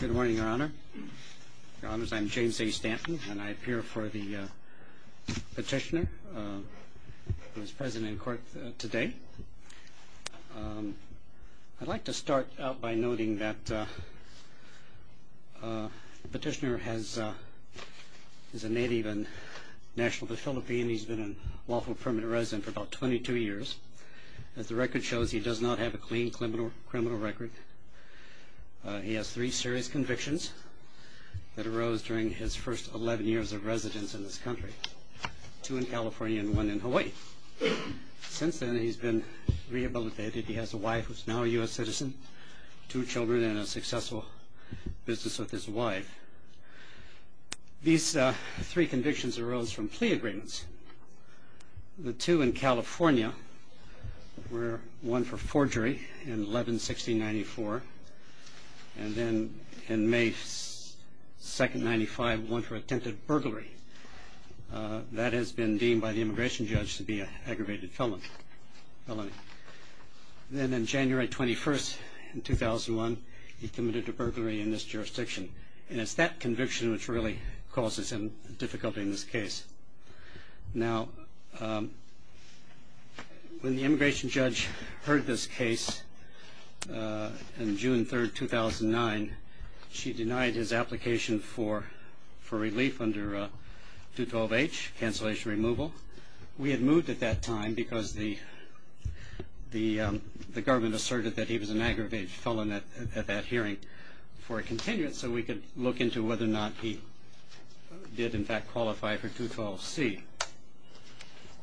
Good morning, Your Honor. Your Honors, I'm James A. Stanton, and I appear before the petitioner who is present in court today. I'd like to start out by noting that the petitioner is a native and national of the Philippines. He's been a lawful permanent resident for about 22 years. As the record shows, he does not have a clean criminal record. He has three serious convictions that arose during his first 11 years of residence in this country, two in California and one in Hawaii. Since then, he's been rehabilitated. He has a wife who's now a U.S. citizen, two children, and a successful business with his wife. These three convictions arose from plea agreements. The two in California were one for forgery in 11-16-94 and then in May 2-95, one for attempted burglary. That has been deemed by the immigration judge to be an aggravated felony. Then on January 21, 2001, he committed a burglary in this jurisdiction. And it's that conviction which really causes him difficulty in this case. Now, when the immigration judge heard this case on June 3, 2009, she denied his application for relief under 212-H, cancellation removal. We had moved at that time because the government asserted that he was an aggravated felon at that hearing for a continuance so we could look into whether or not he did, in fact, qualify for 212-C.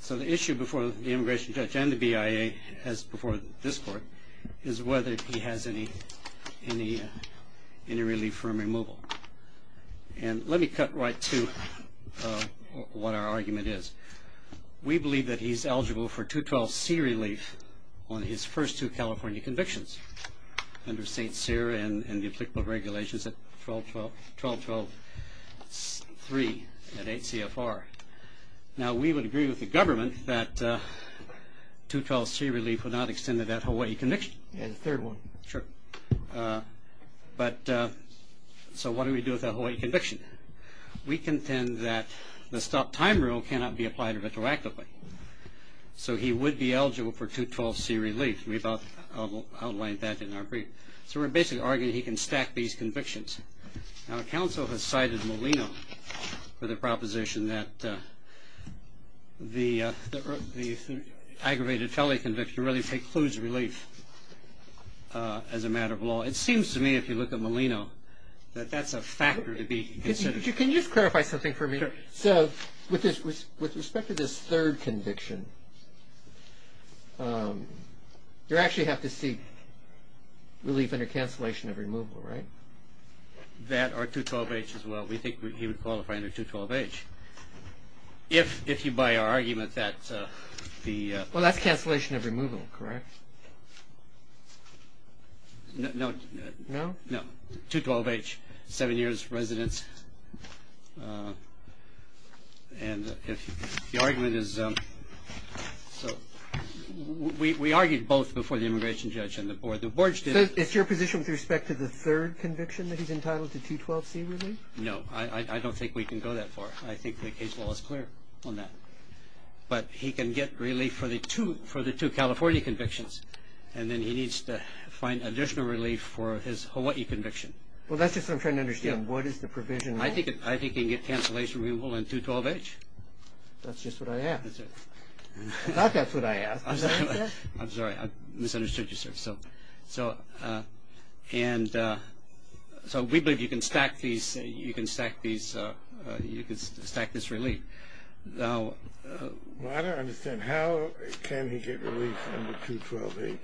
So the issue before the immigration judge and the BIA, as before this court, is whether he has any relief from removal. And let me cut right to what our argument is. We believe that he's eligible for 212-C relief on his first two California convictions under St. Cyr and the applicable regulations at 12-12-3 at 8 CFR. Now, we would agree with the government that 212-C relief would not extend to that Hawaii conviction. And the third one. Sure. But so what do we do with that Hawaii conviction? We contend that the stop time rule cannot be applied retroactively. So he would be eligible for 212-C relief. We've outlined that in our brief. So we're basically arguing he can stack these convictions. Now, counsel has cited Molino for the proposition that the aggravated felony conviction really precludes relief as a matter of law. It seems to me, if you look at Molino, that that's a factor to be considered. Can you just clarify something for me? Sure. So with respect to this third conviction, you actually have to seek relief under cancellation of removal, right? That or 212-H as well. We think he would qualify under 212-H. If you buy our argument that the… Well, that's cancellation of removal, correct? No. No? No. 212-H, seven years residence. And the argument is… We argued both before the immigration judge and the board. It's your position with respect to the third conviction that he's entitled to 212-C relief? No. I don't think we can go that far. I think the case law is clear on that. But he can get relief for the two California convictions. And then he needs to find additional relief for his Hawaii conviction. Well, that's just what I'm trying to understand. What is the provision there? I think he can get cancellation of removal under 212-H. That's just what I asked. I thought that's what I asked. I'm sorry. I misunderstood you, sir. So we believe you can stack this relief. Well, I don't understand. How can he get relief under 212-H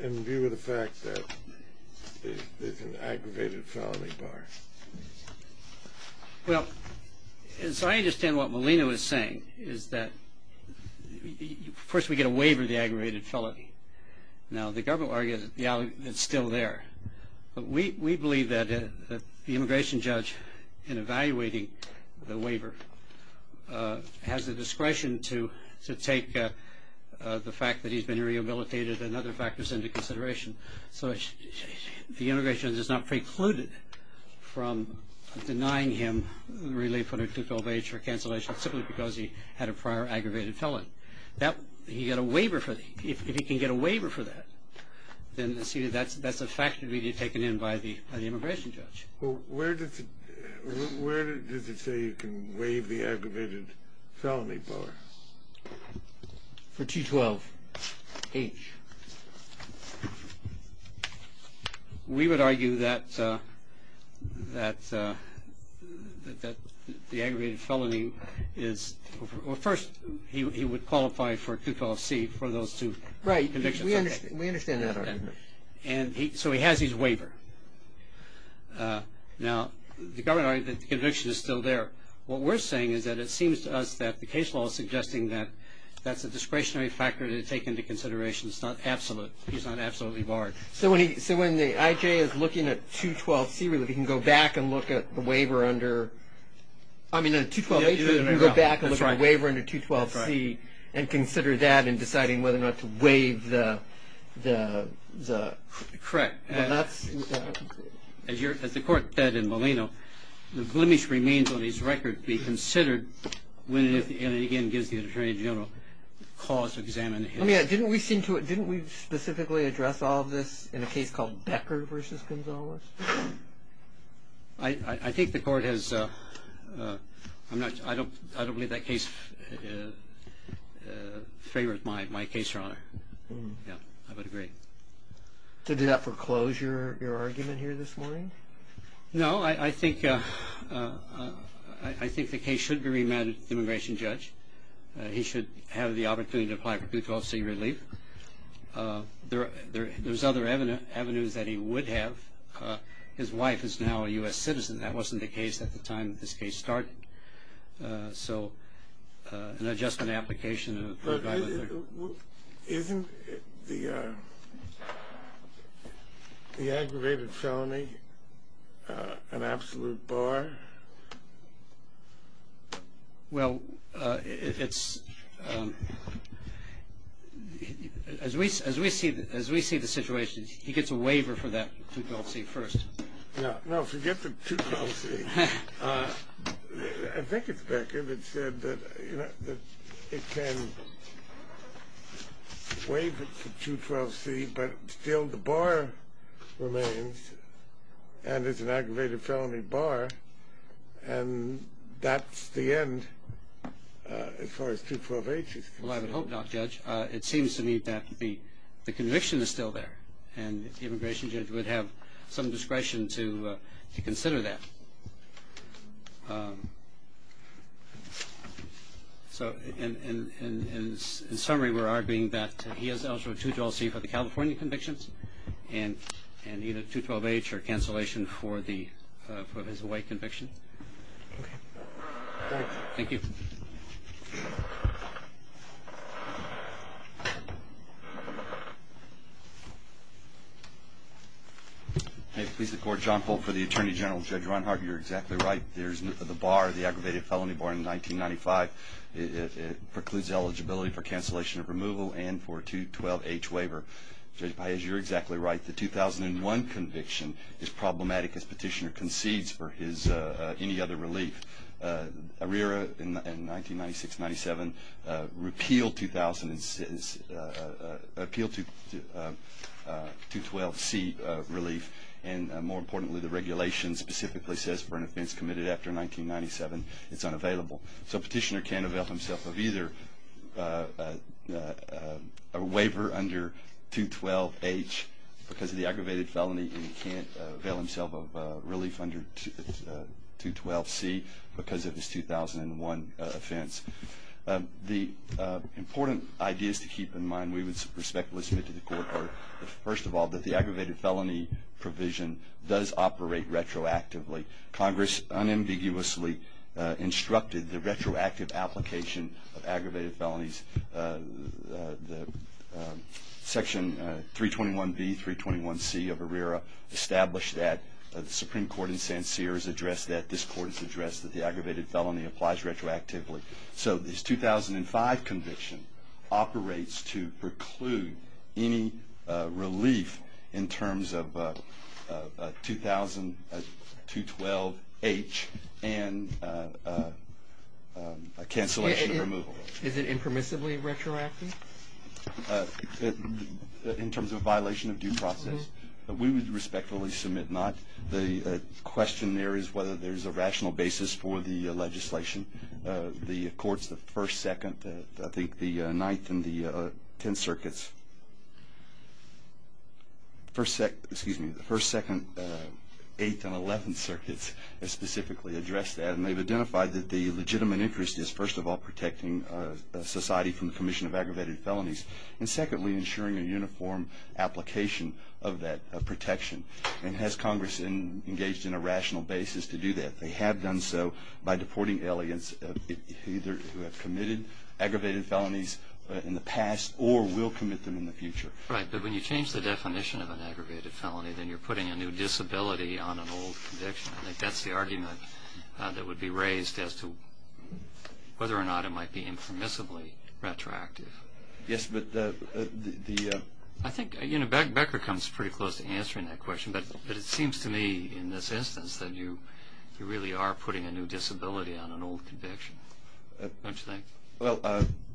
in view of the fact that it's an aggravated felony bar? Well, as I understand what Molina was saying is that first we get a waiver of the aggravated felony. Now, the government argues it's still there. We believe that the immigration judge, in evaluating the waiver, has the discretion to take the fact that he's been rehabilitated and other factors into consideration. So the immigration judge is not precluded from denying him relief under 212-H for cancellation simply because he had a prior aggravated felony. He got a waiver for that. If he can get a waiver for that, then that's a factor to be taken in by the immigration judge. Well, where does it say you can waive the aggravated felony bar? For 212-H. We would argue that the aggravated felony is – well, first, he would qualify for CUCLC for those two convictions. Right. We understand that argument. So he has his waiver. Now, the government argues that the conviction is still there. What we're saying is that it seems to us that the case law is suggesting that that's a discretionary factor to take into consideration. It's not absolute. He's not absolutely barred. So when the IJ is looking at 212-C relief, he can go back and look at the waiver under – I mean, at 212-H, he can go back and look at the waiver under 212-C and consider that in deciding whether or not to waive the – Correct. As the Court said in Molino, the blemish remains on his record to be considered when it, again, gives the Attorney General a cause to examine. Didn't we specifically address all of this in a case called Becker v. Gonzalez? I think the Court has – I don't believe that case favors my case, Your Honor. Yeah, I would agree. Did that foreclose your argument here this morning? No, I think the case should be remanded to the immigration judge. He should have the opportunity to apply for 212-C relief. There's other avenues that he would have. His wife is now a U.S. citizen. That wasn't the case at the time that this case started. So an adjustment application and a – Isn't the aggravated felony an absolute bar? Well, it's – As we see the situation, he gets a waiver for that 212-C first. No, forget the 212-C. I think it's Becker that said that it can waive it for 212-C, but still the bar remains, and it's an aggravated felony bar, and that's the end as far as 212-H is concerned. Well, I would hope not, Judge. It seems to me that the conviction is still there, and the immigration judge would have some discretion to consider that. So in summary, we're arguing that he has eligible 212-C for the California convictions and either 212-H or cancellation for his Hawaii conviction. Thank you. Thank you. May it please the Court. John Folt for the Attorney General. Judge Ronhard, you're exactly right. There's the bar, the aggravated felony bar in 1995. It precludes eligibility for cancellation of removal and for a 212-H waiver. Judge Paez, you're exactly right. The 2001 conviction is problematic as Petitioner concedes for his – any other relief. ARERA in 1996-97 repealed 2000 – appealed to 212-C relief, and more importantly, the regulation specifically says for an offense committed after 1997, it's unavailable. So Petitioner can't avail himself of either a waiver under 212-H because of the aggravated felony, and he can't avail himself of relief under 212-C because of his 2001 offense. The important ideas to keep in mind we would respectfully submit to the Court are, first of all, that the aggravated felony provision does operate retroactively. Congress unambiguously instructed the retroactive application of aggravated felonies. Section 321-B, 321-C of ARERA established that. The Supreme Court in San Sierra has addressed that. This Court has addressed that the aggravated felony applies retroactively. So this 2005 conviction operates to preclude any relief in terms of 2000-212-H and cancellation of removal. Is it impermissibly retroactive? In terms of violation of due process, we would respectfully submit not. The question there is whether there's a rational basis for the legislation. The courts, the 1st, 2nd, I think the 9th and the 10th circuits, the 1st, 2nd, 8th and 11th circuits have specifically addressed that, and they've identified that the legitimate interest is, first of all, protecting society from the commission of aggravated felonies, and secondly, ensuring a uniform application of that protection. And has Congress engaged in a rational basis to do that? They have done so by deporting aliens who have committed aggravated felonies in the past or will commit them in the future. Right, but when you change the definition of an aggravated felony, then you're putting a new disability on an old conviction. I think that's the argument that would be raised as to whether or not it might be impermissibly retroactive. Yes, but the… I think Becker comes pretty close to answering that question, but it seems to me in this instance that you really are putting a new disability on an old conviction. Don't you think? Well,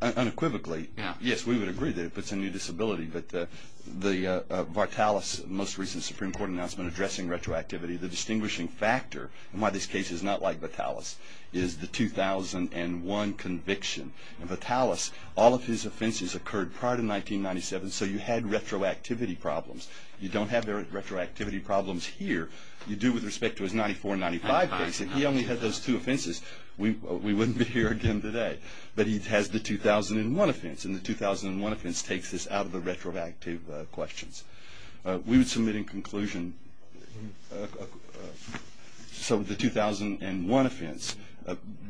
unequivocally, yes, we would agree that it puts a new disability, but the Vartalis most recent Supreme Court announcement addressing retroactivity, the distinguishing factor in why this case is not like Vartalis is the 2001 conviction. In Vartalis, all of his offenses occurred prior to 1997, so you had retroactivity problems. You don't have retroactivity problems here. You do with respect to his 94-95 case, and he only had those two offenses. We wouldn't be here again today, but he has the 2001 offense, and the 2001 offense takes this out of the retroactive questions. We would submit in conclusion, so the 2001 offense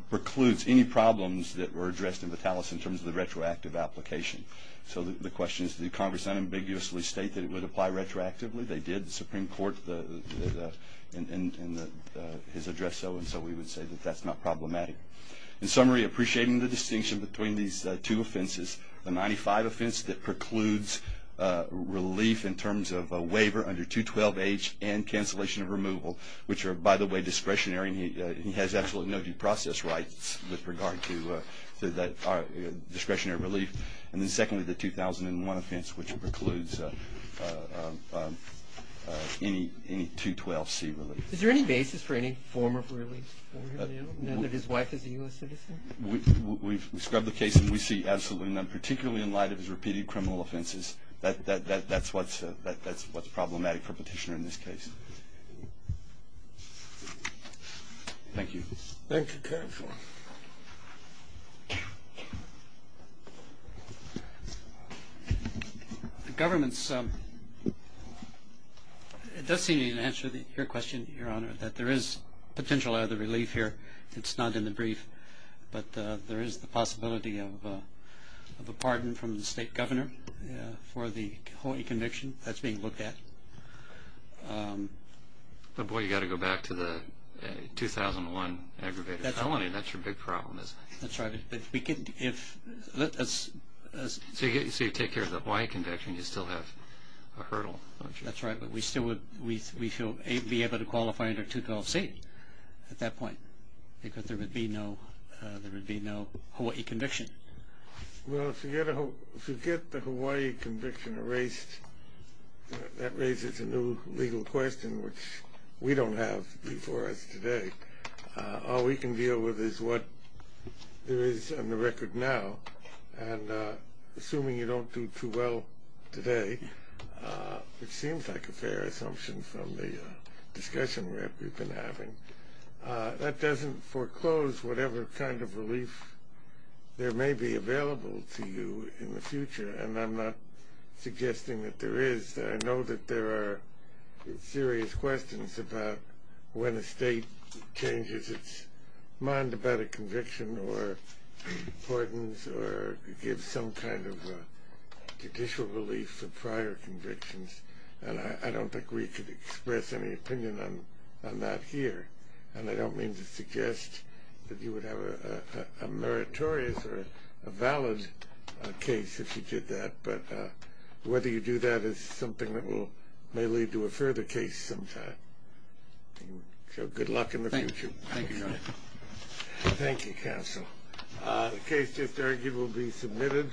precludes any problems that were addressed in Vartalis in terms of the retroactive application. So the question is, did Congress unambiguously state that it would apply retroactively? They did. The Supreme Court, in his address, so and so, we would say that that's not problematic. In summary, appreciating the distinction between these two offenses, the 95 offense that precludes relief in terms of a waiver under 212H and cancellation of removal, which are, by the way, discretionary, and he has absolutely no due process rights with regard to discretionary relief. And then secondly, the 2001 offense, which precludes any 212C relief. Is there any basis for any form of relief for him now, now that his wife is a U.S. citizen? We've scrubbed the case, and we see absolutely none, particularly in light of his repeated criminal offenses. That's what's problematic for a petitioner in this case. Thank you. Thank you, Counselor. The government does seem to answer your question, Your Honor, that there is potential other relief here. It's not in the brief, but there is the possibility of a pardon from the state governor for the Hawaii conviction. That's being looked at. Boy, you've got to go back to the 2001 aggravated felony. That's your big problem, isn't it? That's right. So you take care of the Hawaii conviction. You still have a hurdle, don't you? That's right, but we still would be able to qualify under 212C at that point because there would be no Hawaii conviction. Well, if you get the Hawaii conviction erased, that raises a new legal question, which we don't have before us today. All we can deal with is what there is on the record now, and assuming you don't do too well today, which seems like a fair assumption from the discussion we've been having, that doesn't foreclose whatever kind of relief there may be available to you in the future, and I'm not suggesting that there is. I know that there are serious questions about when a state changes its mind about a conviction or pardons or gives some kind of judicial relief for prior convictions, and I don't think we could express any opinion on that here, and I don't mean to suggest that you would have a meritorious or a valid case if you did that, but whether you do that is something that may lead to a further case sometime. So good luck in the future. Thank you, Your Honor. Thank you, Counsel. The case just argued will be submitted.